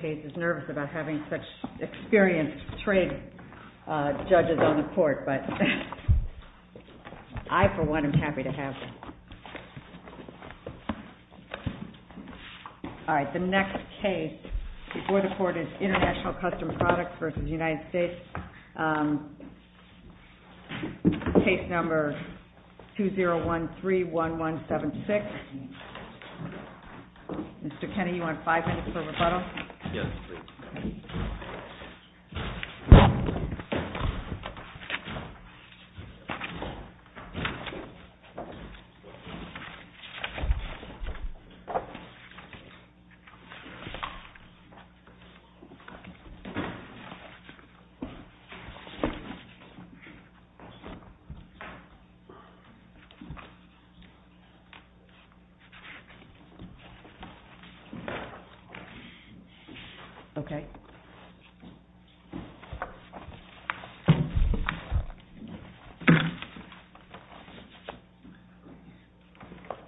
case number 20131176. Mr. Kenney, you want five minutes for rebuttal? Yes, please.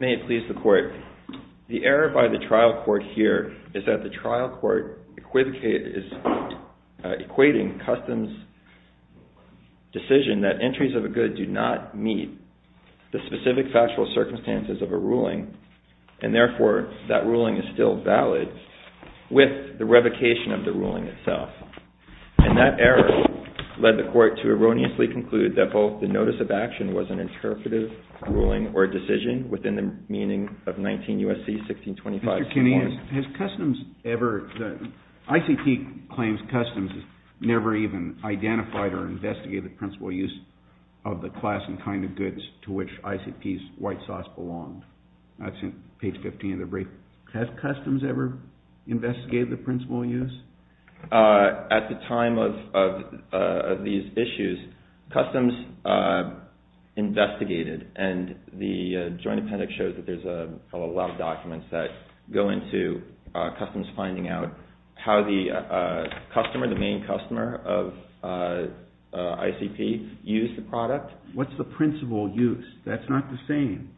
May it please the Court, the error by the trial court here is that the trial court is equating Customs' decision that entries of a good do not meet the specific factual of the ruling itself. And that error led the Court to erroneously conclude that both the notice of action was an interpretive ruling or decision within the meaning of 19 U.S.C. 1625. Mr. Kenney, has Customs ever, the ICP claims Customs never even identified or investigated the principal use of the class and kind of goods to which ICP's white sauce belonged. Page 15 of the brief. Has Customs ever investigated the principal use? At the time of these issues, Customs investigated and the joint appendix shows that there's a lot of documents that go into Customs finding out how the customer, the main customer of ICP used the product. What's the principal use? That's not the same.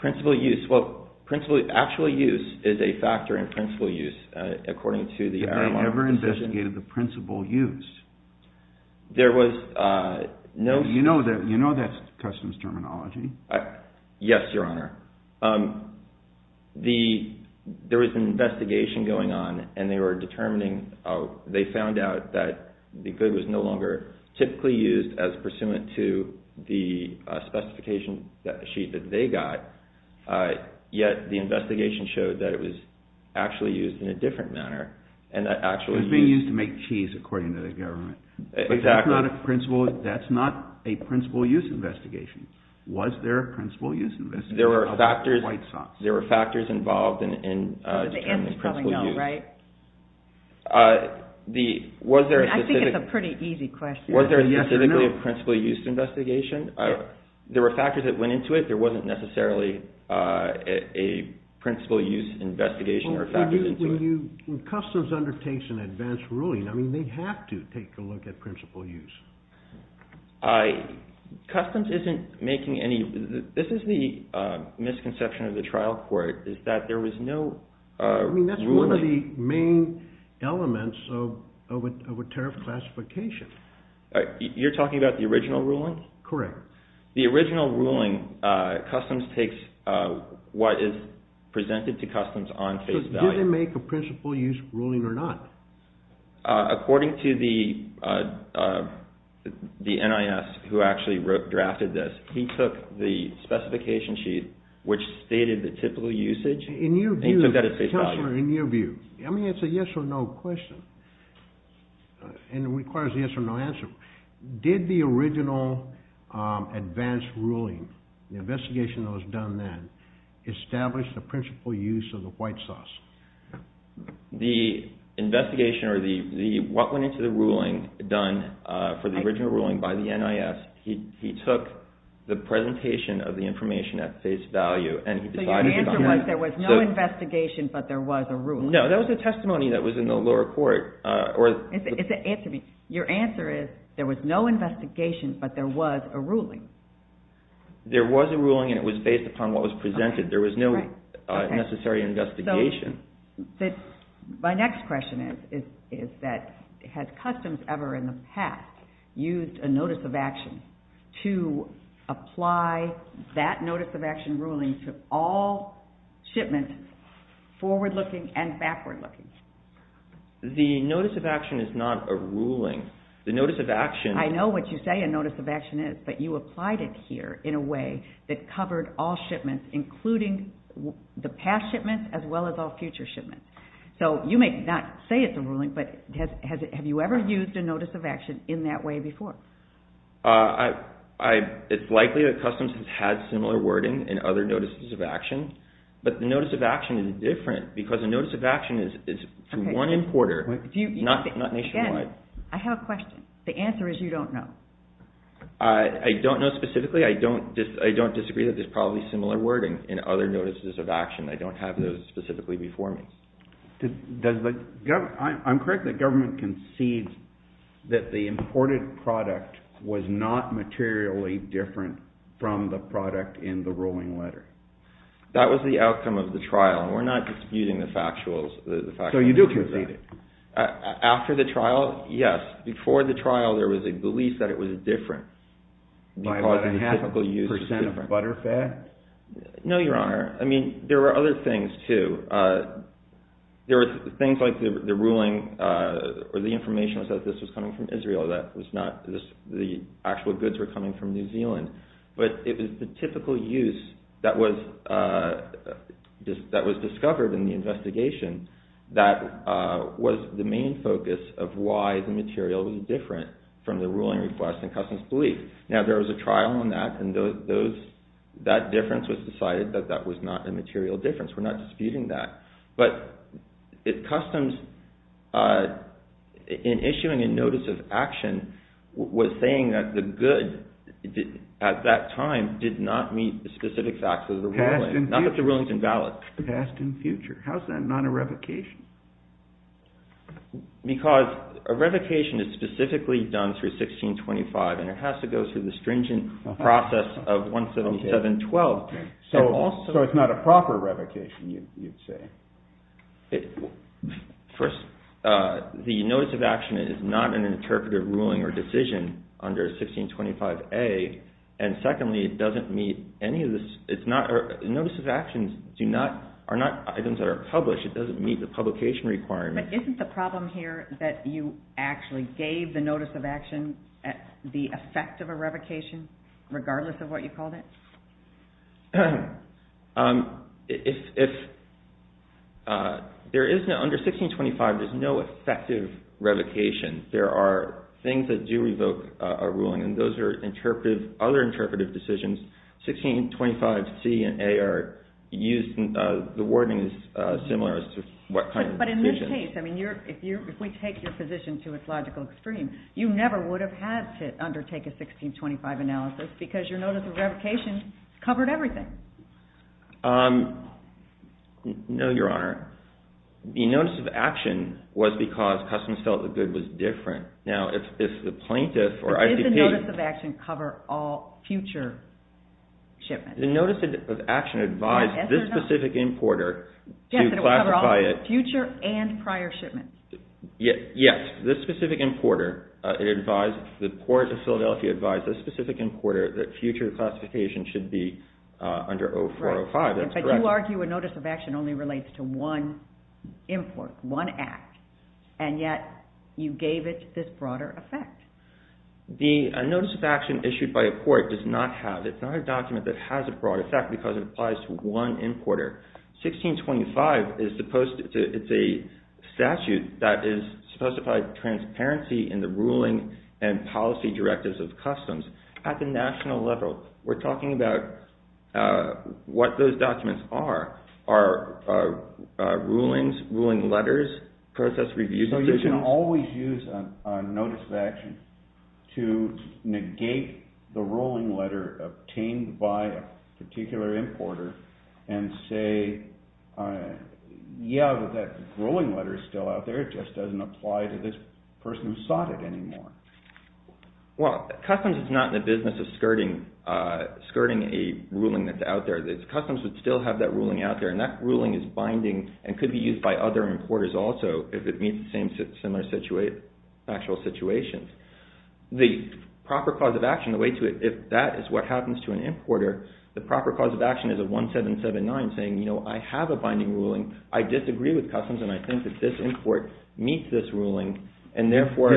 Principal use, well, principal, actual use is a factor in principal use according to the IRRM decision. Have they ever investigated the principal use? There was no... You know that's Customs terminology. Yes, Your Honor. There was an investigation going on and they were determining, they found out that the good was no longer typically used as pursuant to the specification sheet that they got, yet the investigation showed that it was actually used in a different manner and that actually... It was being used to make cheese according to the government. Exactly. That's not a principal use investigation. Was there a principal use investigation of white sauce? There were factors involved in determining principal use. The answer is probably no, right? Was there a specific... I think it's a pretty easy question. Was there a specific principal use investigation? Yes. There were factors that went into it. There wasn't necessarily a principal use investigation or factors into it. When Customs undertakes an advanced ruling, I mean, they have to take a look at principal use. Customs isn't making any... This is the misconception of the trial court, is that there was no ruling... I mean, that's one of the main elements of a tariff classification. You're talking about the original ruling? Correct. The original ruling, Customs takes what is presented to Customs on face value. Did they make a principal use ruling or not? According to the NIS who actually drafted this, he took the specification sheet which stated the typical usage and he took that at face value. Counselor, in your view... I mean, it's a yes or no question and it requires a yes or no answer. Did the original advanced ruling, the investigation that was done then, establish the principal use of the white sauce? The investigation or what went into the ruling done for the original ruling by the NIS, he took the presentation of the information at face value and he decided to... So your answer was there was no investigation but there was a ruling? No, that was a testimony that was in the lower court. Answer me. Your answer is there was no investigation but there was a ruling? There was a ruling and it was based upon what was presented. There was no necessary investigation. My next question is that had Customs ever in the past used a notice of action to apply that notice of action ruling to all shipments forward looking and backward looking? The notice of action is not a ruling. The notice of action... I know what you say a notice of action is but you applied it here in a way that covered all shipments including the past shipments as well as all future shipments. So you may not say it's a ruling but have you ever used a notice of action in that way before? It's likely that Customs has had similar wording in other notices of action but the notice of action is different because a notice of action is from one importer, not nationwide. Again, I have a question. The answer is you don't know. I don't know specifically. I don't disagree that there's probably similar wording in other notices of action. I don't have those specifically before me. I'm correct that government concedes that the imported product was not materially different from the product in the ruling letter. That was the outcome of the trial. We're not disputing the factual... So you do concede it? After the trial, yes. Before the trial, there was a belief that it was different. By about a half percent of butter fat? No, Your Honor. I mean, there were other things too. There were things like the ruling or the information was that this was coming from Israel. The actual goods were coming from New Zealand. But it was the typical use that was discovered in the investigation that was the main focus of why the material was different from the ruling request and customs belief. Now, there was a trial on that and that difference was decided that that was not a material difference. We're not disputing that. But customs in issuing a notice of action was saying that the good at that time did not meet the specific facts of the ruling. Not that the ruling is invalid. Past and future. How is that not a revocation? Because a revocation is specifically done through 1625 and it has to go through the stringent process of 17712. So it's not a proper revocation, you'd say. First, the notice of action is not an interpretive ruling or decision under 1625A. And secondly, it doesn't meet any of this. Notice of actions are not items that are published. It doesn't meet the publication requirement. But isn't the problem here that you actually gave the notice of action the effect of a revocation regardless of what you called it? If there is, under 1625, there's no effective revocation. There are things that do revoke a ruling and those are other interpretive decisions. 1625C and A are used, the wording is similar as to what kind of decision. But in this case, if we take your position to its logical extreme, you never would have had to undertake a 1625 analysis because your notice of revocation covered everything. No, Your Honor. The notice of action was because customers felt the good was different. Now, if the plaintiff or ICP... Does the notice of action cover all future shipments? The notice of action advised this specific importer to classify it... Yes, it will cover all future and prior shipments. Yes, this specific importer advised... The Port of Philadelphia advised this specific importer that future classification should be under 0405. That's correct. But you argue a notice of action only relates to one import, one act. And yet, you gave it this broader effect. The notice of action issued by a port does not have... It's not a document that has a broad effect because it applies to one importer. 1625 is supposed to... It's a statute that is supposed to provide transparency in the ruling and policy directives of customs. At the national level, we're talking about what those documents are. Are rulings, ruling letters, process reviews decisions... So you can always use a notice of action to negate the ruling letter obtained by a particular importer and say, yeah, but that ruling letter is still out there. It just doesn't apply to this person who sought it anymore. Well, customs is not in the business of skirting a ruling that's out there. Customs would still have that ruling out there. And that ruling is binding and could be used by other importers also if it meets similar factual situations. The proper cause of action, the way to it, if that is what happens to an importer, the proper cause of action is a 1779 saying, you know, I have a binding ruling, I disagree with customs, and I think that this import meets this ruling, and therefore...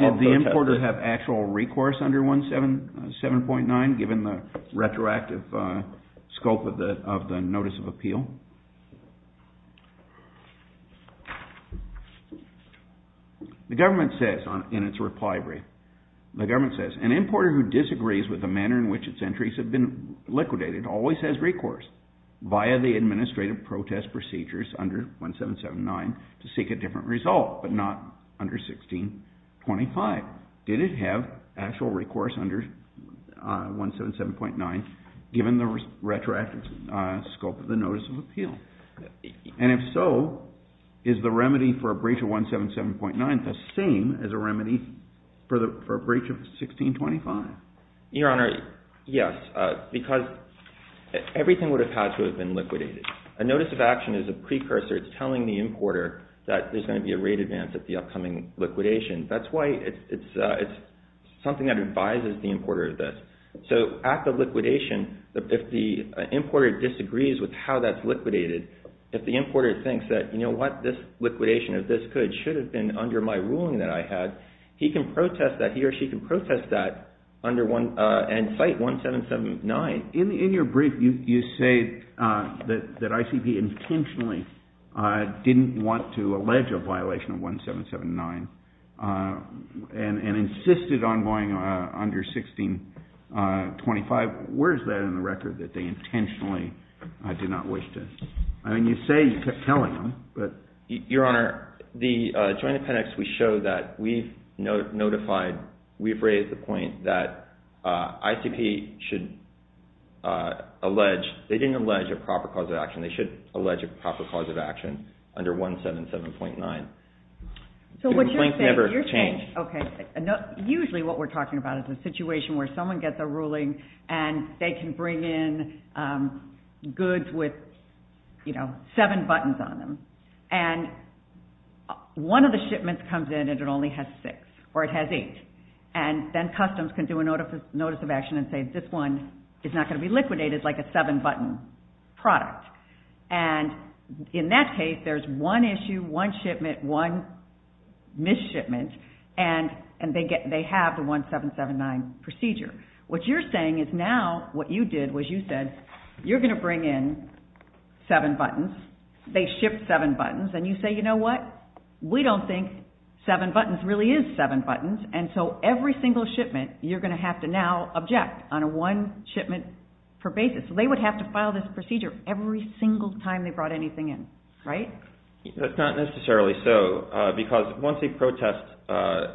Did the importer have actual recourse under 1779 given the retroactive scope of the notice of appeal? The government says in its reply brief, the government says, an importer who disagrees with the manner in which its entries have been liquidated always has recourse via the administrative protest procedures under 1779 to seek a different result, but not under 1625. Did it have actual recourse under 177.9 given the retroactive scope of the notice of appeal? And if so, is the remedy for a breach of 177.9 the same as a remedy for a breach of 1625? Your Honor, yes, because everything would have had to have been liquidated. A notice of action is a precursor. It's telling the importer that there's going to be a rate advance at the upcoming liquidation. That's why it's something that advises the importer of this. So at the liquidation, if the importer disagrees with how that's liquidated, if the importer thinks that, you know what, this liquidation of this good should have been under my ruling that I had, he or she can protest that and cite 1779. In your brief, you say that ICP intentionally didn't want to allege a violation of 1779 and insisted on going under 1625. Where is that in the record that they intentionally did not wish to? I mean, you say you kept telling them. Your Honor, the Joint Appendix, we show that we've notified, we've raised the point that ICP should allege, they didn't allege a proper cause of action. They should allege a proper cause of action under 177.9. The complaint never changed. Okay. Usually what we're talking about is a situation where someone gets a ruling and they can bring in goods with, you know, seven buttons on them. And one of the shipments comes in and it only has six or it has eight. And then customs can do a notice of action and say, this one is not going to be liquidated like a seven-button product. And in that case, there's one issue, one shipment, one misshipment, and they have the 1779 procedure. What you're saying is now what you did was you said, you're going to bring in seven buttons. They shipped seven buttons. And you say, you know what? We don't think seven buttons really is seven buttons. And so every single shipment you're going to have to now object on a one shipment per basis. They would have to file this procedure every single time they brought anything in, right? That's not necessarily so because once a protest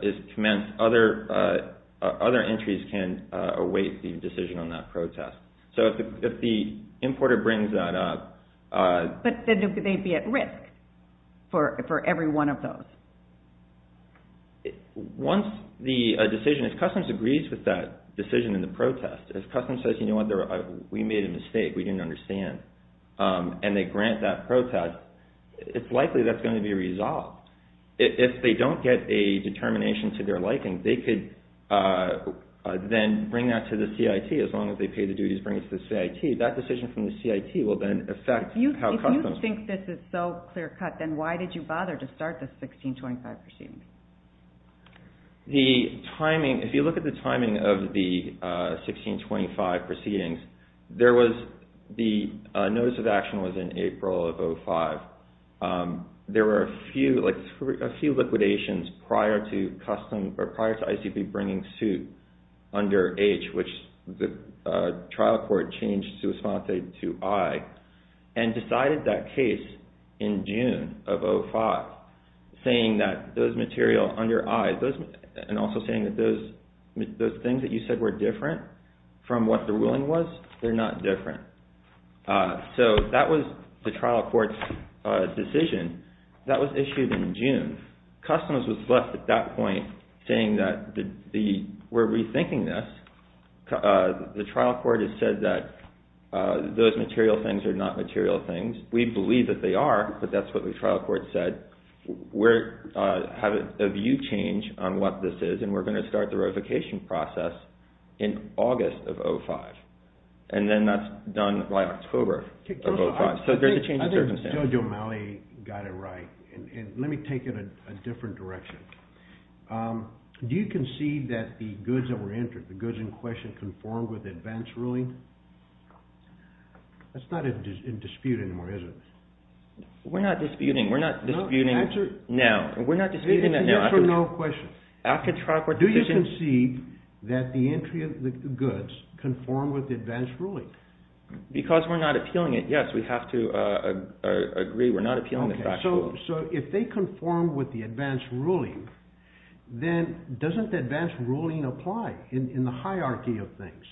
is commenced, other entries can await the decision on that protest. So if the importer brings that up. But they'd be at risk for every one of those. Once the decision, if customs agrees with that decision in the protest, if customs says, you know what? We made a mistake. We didn't understand. And they grant that protest, it's likely that's going to be resolved. If they don't get a determination to their liking, they could then bring that to the CIT as long as they pay the duties, bring it to the CIT. That decision from the CIT will then affect how customs. If you think this is so clear cut, then why did you bother to start the 1625 proceeding? The timing, if you look at the timing of the 1625 proceedings, the notice of action was in April of 05. There were a few liquidations prior to ICP bringing suit under H, which the trial court changed to respond to I, and decided that case in June of 05, saying that those material under I, and also saying that those things that you said were different from what the ruling was, they're not different. So that was the trial court's decision. That was issued in June. Customs was left at that point saying that we're rethinking this. The trial court has said that those material things are not material things. We believe that they are, but that's what the trial court said. We're having a view change on what this is, and we're going to start the ratification process in August of 05. And then that's done by October of 05. So there's a change of circumstance. I think Judge O'Malley got it right. And let me take it a different direction. Do you concede that the goods that were entered, the goods in question, conformed with the advance ruling? That's not a dispute anymore, is it? We're not disputing. We're not disputing now. We're not disputing that now. Answer no question. Do you concede that the entry of the goods conformed with the advance ruling? Because we're not appealing it, yes. We have to agree we're not appealing the factual. So if they conform with the advance ruling, then doesn't the advance ruling apply in the hierarchy of things?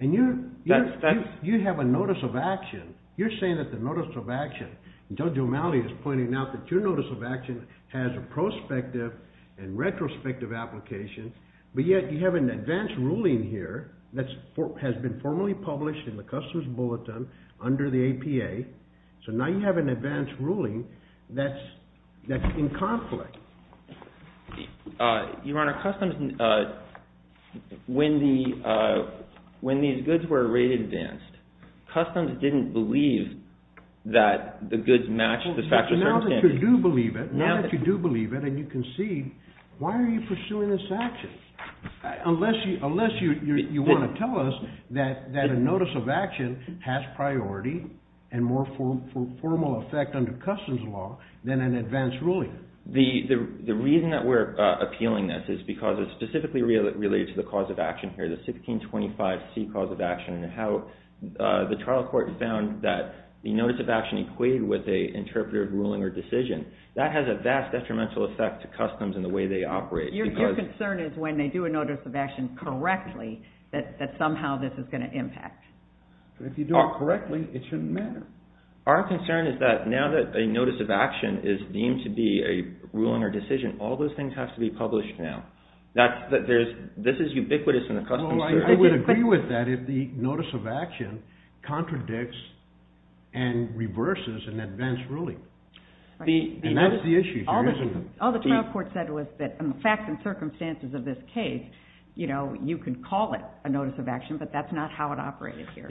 And you have a notice of action. You're saying that the notice of action, and Judge O'Malley is pointing out that your notice of action has a prospective and retrospective application, but yet you have an advance ruling here that has been formally published in the Customs Bulletin under the APA. So now you have an advance ruling that's in conflict. Your Honor, Customs, when these goods were rated advanced, Customs didn't believe that the goods matched the factual circumstances. Now that you do believe it, and you concede, why are you pursuing this action? Unless you want to tell us that a notice of action has priority and more formal effect under Customs law than an advance ruling. The reason that we're appealing this is because it's specifically related to the cause of action here, the 1625C cause of action, and how the trial court found that the notice of action equated with an interpretative ruling or decision. That has a vast detrimental effect to Customs and the way they operate. Your concern is when they do a notice of action correctly that somehow this is going to impact. If you do it correctly, it shouldn't matter. Our concern is that now that a notice of action is deemed to be a ruling or decision, all those things have to be published now. This is ubiquitous in the Customs. I would agree with that if the notice of action contradicts and reverses an advance ruling. And that's the issue here, isn't it? All the trial court said was that in the facts and circumstances of this case, you can call it a notice of action, but that's not how it operated here.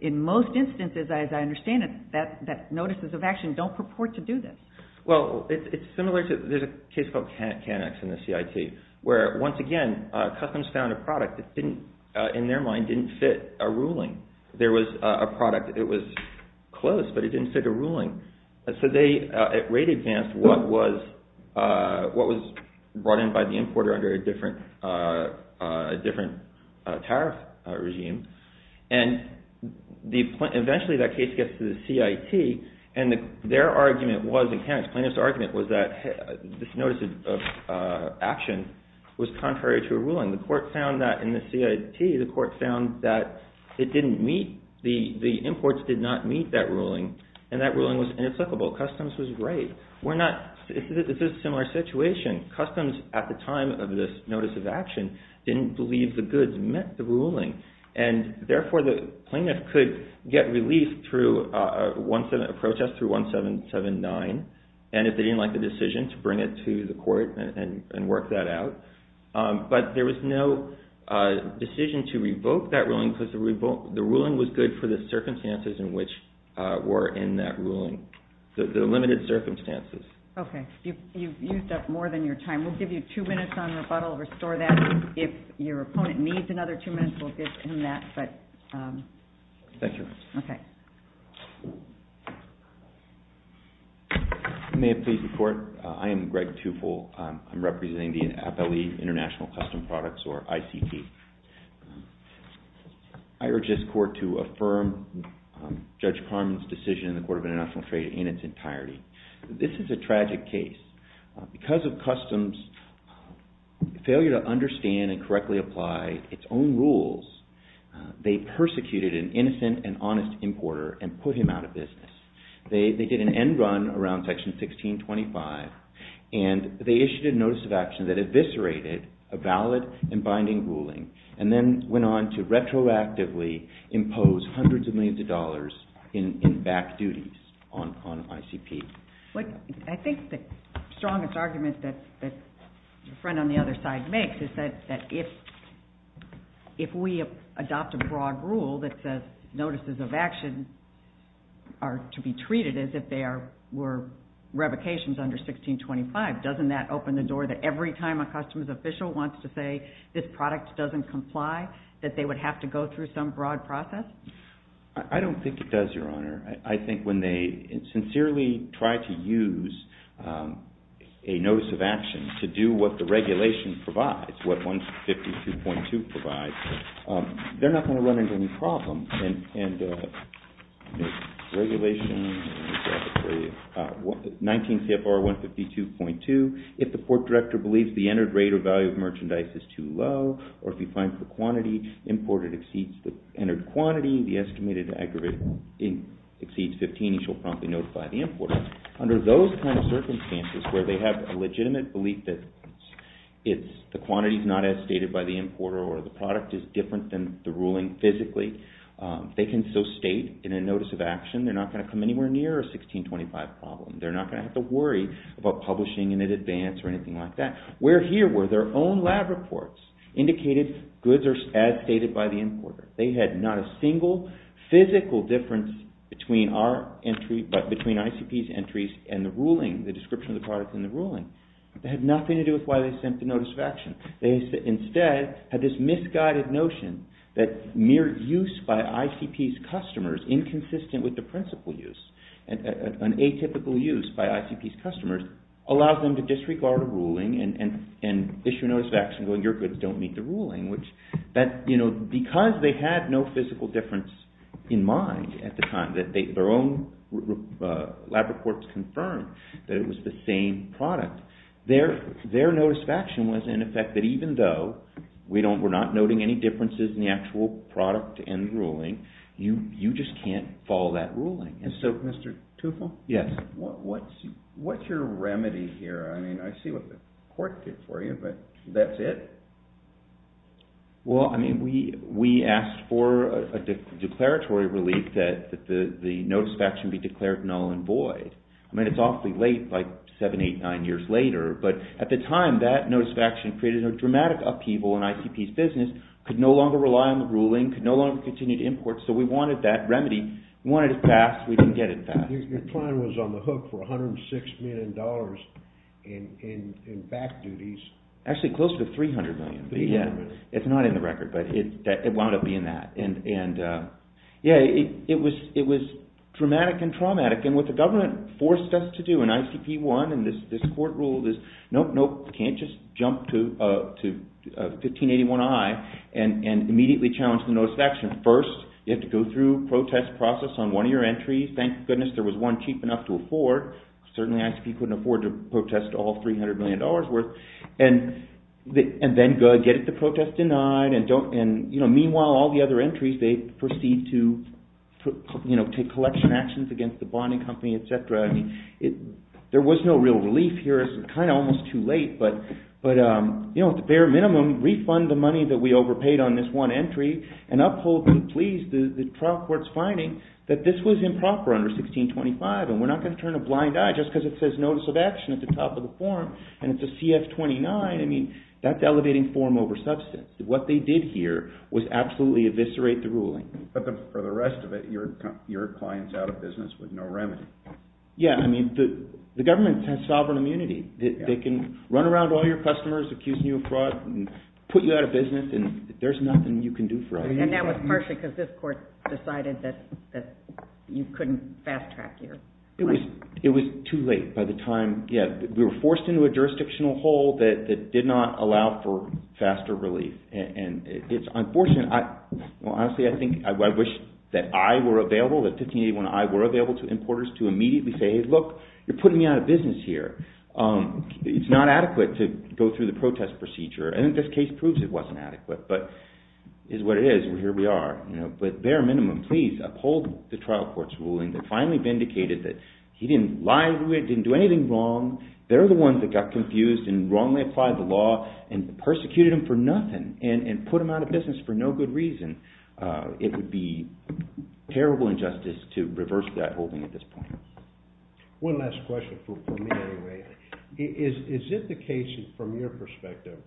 In most instances, as I understand it, notices of action don't purport to do this. Well, it's similar to... There's a case called Canex in the CIT, where, once again, Customs found a product that, in their mind, didn't fit a ruling. There was a product. It was close, but it didn't fit a ruling. So they rate-advanced what was brought in by the importer under a different tariff regime. And eventually, that case gets to the CIT, and their argument was, in Canex, plaintiff's argument was that this notice of action was contrary to a ruling. The court found that in the CIT, the court found that it didn't meet... The imports did not meet that ruling, and that ruling was inapplicable. Customs was right. We're not... This is a similar situation. Customs, at the time of this notice of action, didn't believe the goods met the ruling, and, therefore, the plaintiff could get relief through a protest through 1779, and, if they didn't like the decision, to bring it to the court and work that out. But there was no decision to revoke that ruling because the ruling was good for the circumstances in which were in that ruling, the limited circumstances. Okay. You've used up more than your time. We'll give you two minutes on rebuttal. Restore that. If your opponent needs another two minutes, we'll give him that, but... Thank you. Okay. May it please the Court? I am Greg Tufel. I'm representing the FLE, International Custom Products, or ICT. I urge this Court to affirm Judge Carmen's decision in the Court of International Trade in its entirety. This is a tragic case. Because of customs' failure to understand and correctly apply its own rules, they persecuted an innocent and honest importer and put him out of business. They did an end run around Section 1625, and they issued a notice of action that eviscerated a valid and binding ruling and then went on to retroactively impose hundreds of millions of dollars in back duties on ICP. I think the strongest argument that your friend on the other side makes is that if we adopt a broad rule that says notices of action are to be treated as if they were revocations under 1625, doesn't that open the door that every time a customs official wants to say this product doesn't comply, that they would have to go through some broad process? I don't think it does, Your Honor. I think when they sincerely try to use a notice of action to do what the regulation provides, what 152.2 provides, they're not going to run into any problems. And the regulation, 19 CFR 152.2, if the Port Director believes the entered rate or value of merchandise is too low or if he finds the quantity imported exceeds the entered quantity, the estimated aggregate exceeds 15, he shall promptly notify the importer. Under those kinds of circumstances where they have a legitimate belief that the quantity is not as stated by the importer or the product is different than the ruling physically, they can still state in a notice of action they're not going to come anywhere near a 1625 problem. They're not going to have to worry about publishing in advance or anything like that. Where here were their own lab reports indicated goods are as stated by the importer. They had not a single physical difference between ICP's entries and the ruling, the description of the product in the ruling. It had nothing to do with why they sent the notice of action. They instead had this misguided notion that mere use by ICP's customers inconsistent with the principle use, an atypical use by ICP's customers, allows them to disregard a ruling and issue a notice of action saying your goods don't meet the ruling. Because they had no physical difference in mind at the time, their own lab reports confirmed that it was the same product, their notice of action was in effect that even though we're not noting any differences in the actual product and ruling, you just can't follow that ruling. And so, Mr. Tufo? Yes. What's your remedy here? I mean, I see what the court did for you, but that's it? Well, I mean, we asked for a declaratory relief that the notice of action be declared null and void. I mean, it's awfully late, like seven, eight, nine years later, but at the time, that notice of action created a dramatic upheaval in ICP's business, could no longer rely on the ruling, could no longer continue to import, so we wanted that remedy. We wanted it passed. We didn't get it passed. Your client was on the hook for $106 million in back duties. Actually, close to $300 million. $300 million. It's not in the record, but it wound up being that. And, yeah, it was dramatic and traumatic. And what the government forced us to do in ICP-1 and this court rule, this nope, nope, can't just jump to 1581-I and immediately challenge the notice of action. First, you have to go through a protest process on one of your entries. Thank goodness there was one cheap enough to afford. Certainly ICP couldn't afford to protest all $300 million worth. And then get the protest denied. Meanwhile, all the other entries, they proceed to take collection actions against the bonding company, et cetera. There was no real relief here. It's kind of almost too late, but at the bare minimum, refund the money that we overpaid on this one entry and uphold and please the trial court's finding that this was improper under 1625 and we're not going to turn a blind eye just because it says notice of action at the top of the form and it's a CF-29. I mean, that's elevating form over substance. What they did here was absolutely eviscerate the ruling. But for the rest of it, your client's out of business with no remedy. Yeah, I mean, the government has sovereign immunity. They can run around to all your customers accusing you of fraud and put you out of business and there's nothing you can do for it. And that was partially because this court decided that you couldn't fast-track here. It was too late by the time, yeah. We were forced into a jurisdictional hole that did not allow for faster relief. And it's unfortunate. Well, honestly, I think I wish that I were available, that 1581I were available to importers to immediately say, hey, look, you're putting me out of business here. It's not adequate to go through the protest procedure. I think this case proves it wasn't adequate, but it is what it is, and here we are. But bare minimum, please uphold the trial court's ruling that finally vindicated that he didn't lie, he didn't do anything wrong, they're the ones that got confused and wrongly applied the law and persecuted him for nothing and put him out of business for no good reason. It would be terrible injustice to reverse that holding at this point. One last question for me, anyway. Is it the case, from your perspective,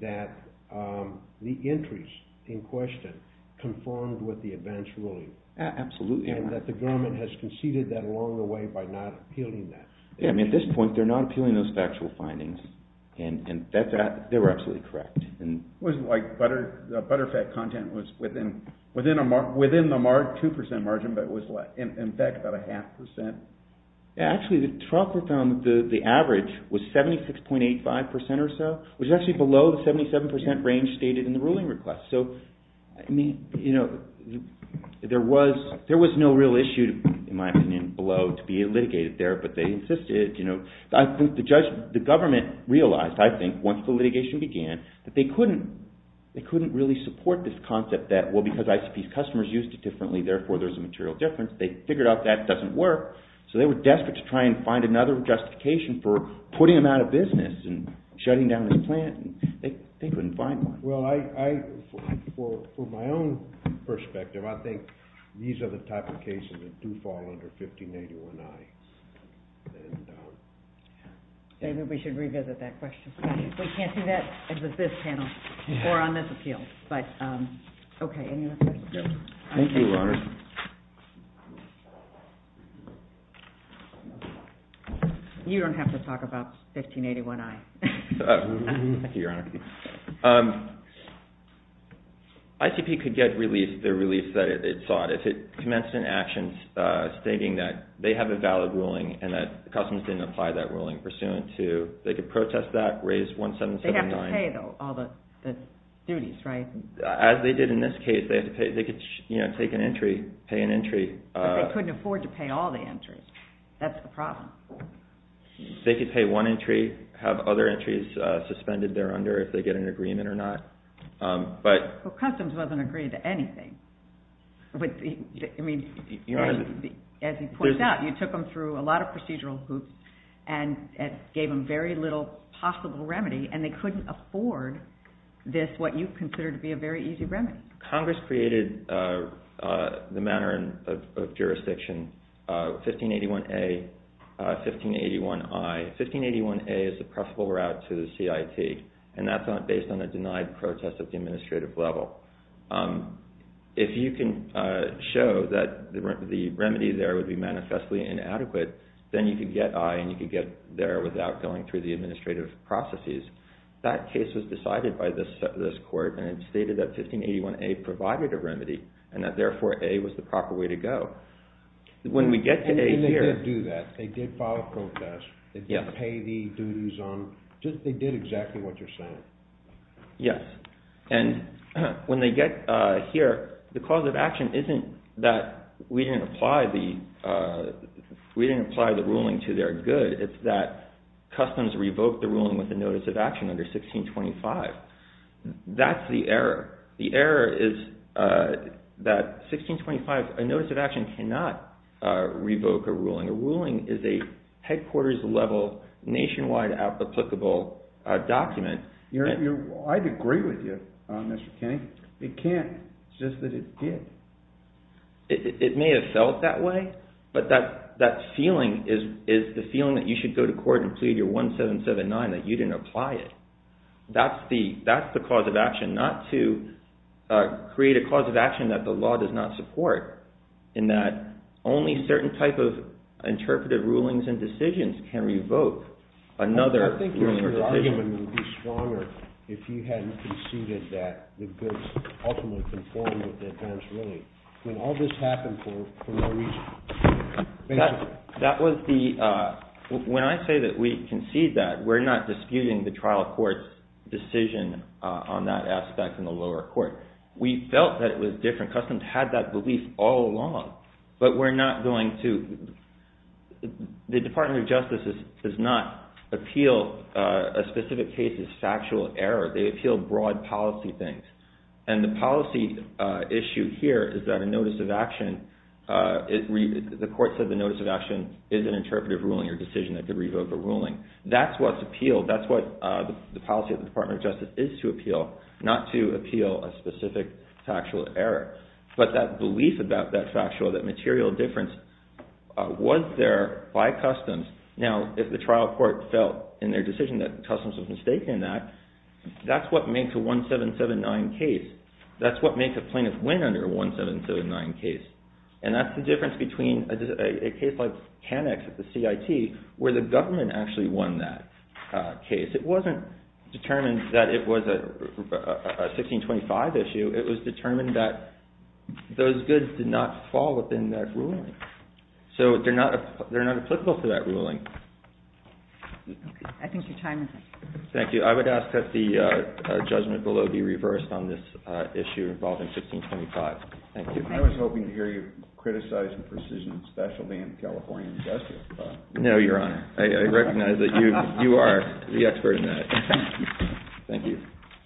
that the entries in question conformed with the advance ruling? Absolutely. And that the government has conceded that along the way by not appealing that? Yeah, I mean, at this point, they're not appealing those factual findings, and they were absolutely correct. It wasn't like the butterfat content was within the 2% margin, but it was, in fact, about a half percent? Actually, the trial court found that the average was 76.85% or so, which is actually below the 77% range stated in the ruling request. So, I mean, you know, there was no real issue, in my opinion, below to be litigated there, but they insisted, you know. I think the government realized, I think, once the litigation began, that they couldn't really support this concept that, well, because ICP's customers used it differently, therefore there's a material difference. They figured out that doesn't work, so they were desperate to try and find another justification for putting them out of business and shutting down this plant, and they couldn't find one. Well, I, for my own perspective, I think these are the type of cases that do fall under 1581I. David, we should revisit that question. We can't do that with this panel or on this appeal, but, okay. Any other questions? Thank you, Your Honor. You don't have to talk about 1581I. Thank you, Your Honor. ICP could get released, the release that it sought, if it commenced an action stating that they have a valid ruling and that customers didn't apply that ruling pursuant to, they could protest that, raise 1779. They'd have to pay, though, all the duties, right? As they did in this case, they could take an entry, pay an entry. But they couldn't afford to pay all the entries. That's the problem. They could pay one entry, have other entries suspended there under if they get an agreement or not. But Customs wasn't agreed to anything. But, I mean, as he points out, you took them through a lot of procedural hoops and gave them very little possible remedy and they couldn't afford this, what you consider to be a very easy remedy. Congress created the manner of jurisdiction, 1581A, 1581I. 1581A is the preferable route to the CIT and that's based on a denied protest at the administrative level. If you can show that the remedy there would be manifestly inadequate, then you could get I and you could get there without going through the administrative processes. That case was decided by this court and it stated that 1581A provided a remedy and that, therefore, A was the proper way to go. When we get to A here... And they did do that. They did file a protest. They did pay the duties on... They did exactly what you're saying. Yes. And when they get here, the cause of action isn't that we didn't apply the ruling to their good. It's that Customs revoked the ruling with a notice of action under 1625. That's the error. The error is that 1625, a notice of action cannot revoke a ruling. A ruling is a headquarters-level, nationwide applicable document. I'd agree with you, Mr. Kinney. It can't. It's just that it did. It may have felt that way, but that feeling is the feeling that you should go to court and plead your 1779 that you didn't apply it. That's the cause of action, not to create a cause of action that the law does not support, in that only certain type of interpretive rulings and decisions can revoke another ruling or decision. I think your argument would be stronger if you hadn't conceded that the goods ultimately conformed with the advance ruling. When all this happened for no reason. That was the... When I say that we concede that, we're not disputing the trial court's decision on that aspect in the lower court. We felt that it was different. Customs had that belief all along. But we're not going to... The Department of Justice does not appeal a specific case's factual error. They appeal broad policy things. And the policy issue here is that a notice of action... The court said the notice of action is an interpretive ruling or decision that could revoke a ruling. That's what's appealed. That's what the policy of the Department of Justice is to appeal, not to appeal a specific factual error. But that belief about that factual, that material difference, was there by customs. Now, if the trial court felt in their decision that customs was mistaken in that, that's what makes a 1779 case. That's what makes a plaintiff win under a 1779 case. And that's the difference between a case like CanEx at the CIT, where the government actually won that case. It wasn't determined that it was a 1625 issue. It was determined that those goods did not fall within that ruling. So they're not applicable to that ruling. I think your time is up. Thank you. I would ask that the judgment below be reversed on this issue involving 1625. Thank you. I was hoping to hear you criticize the precision and specialty No, Your Honor. I recognize that you are the expert in that. Thank you.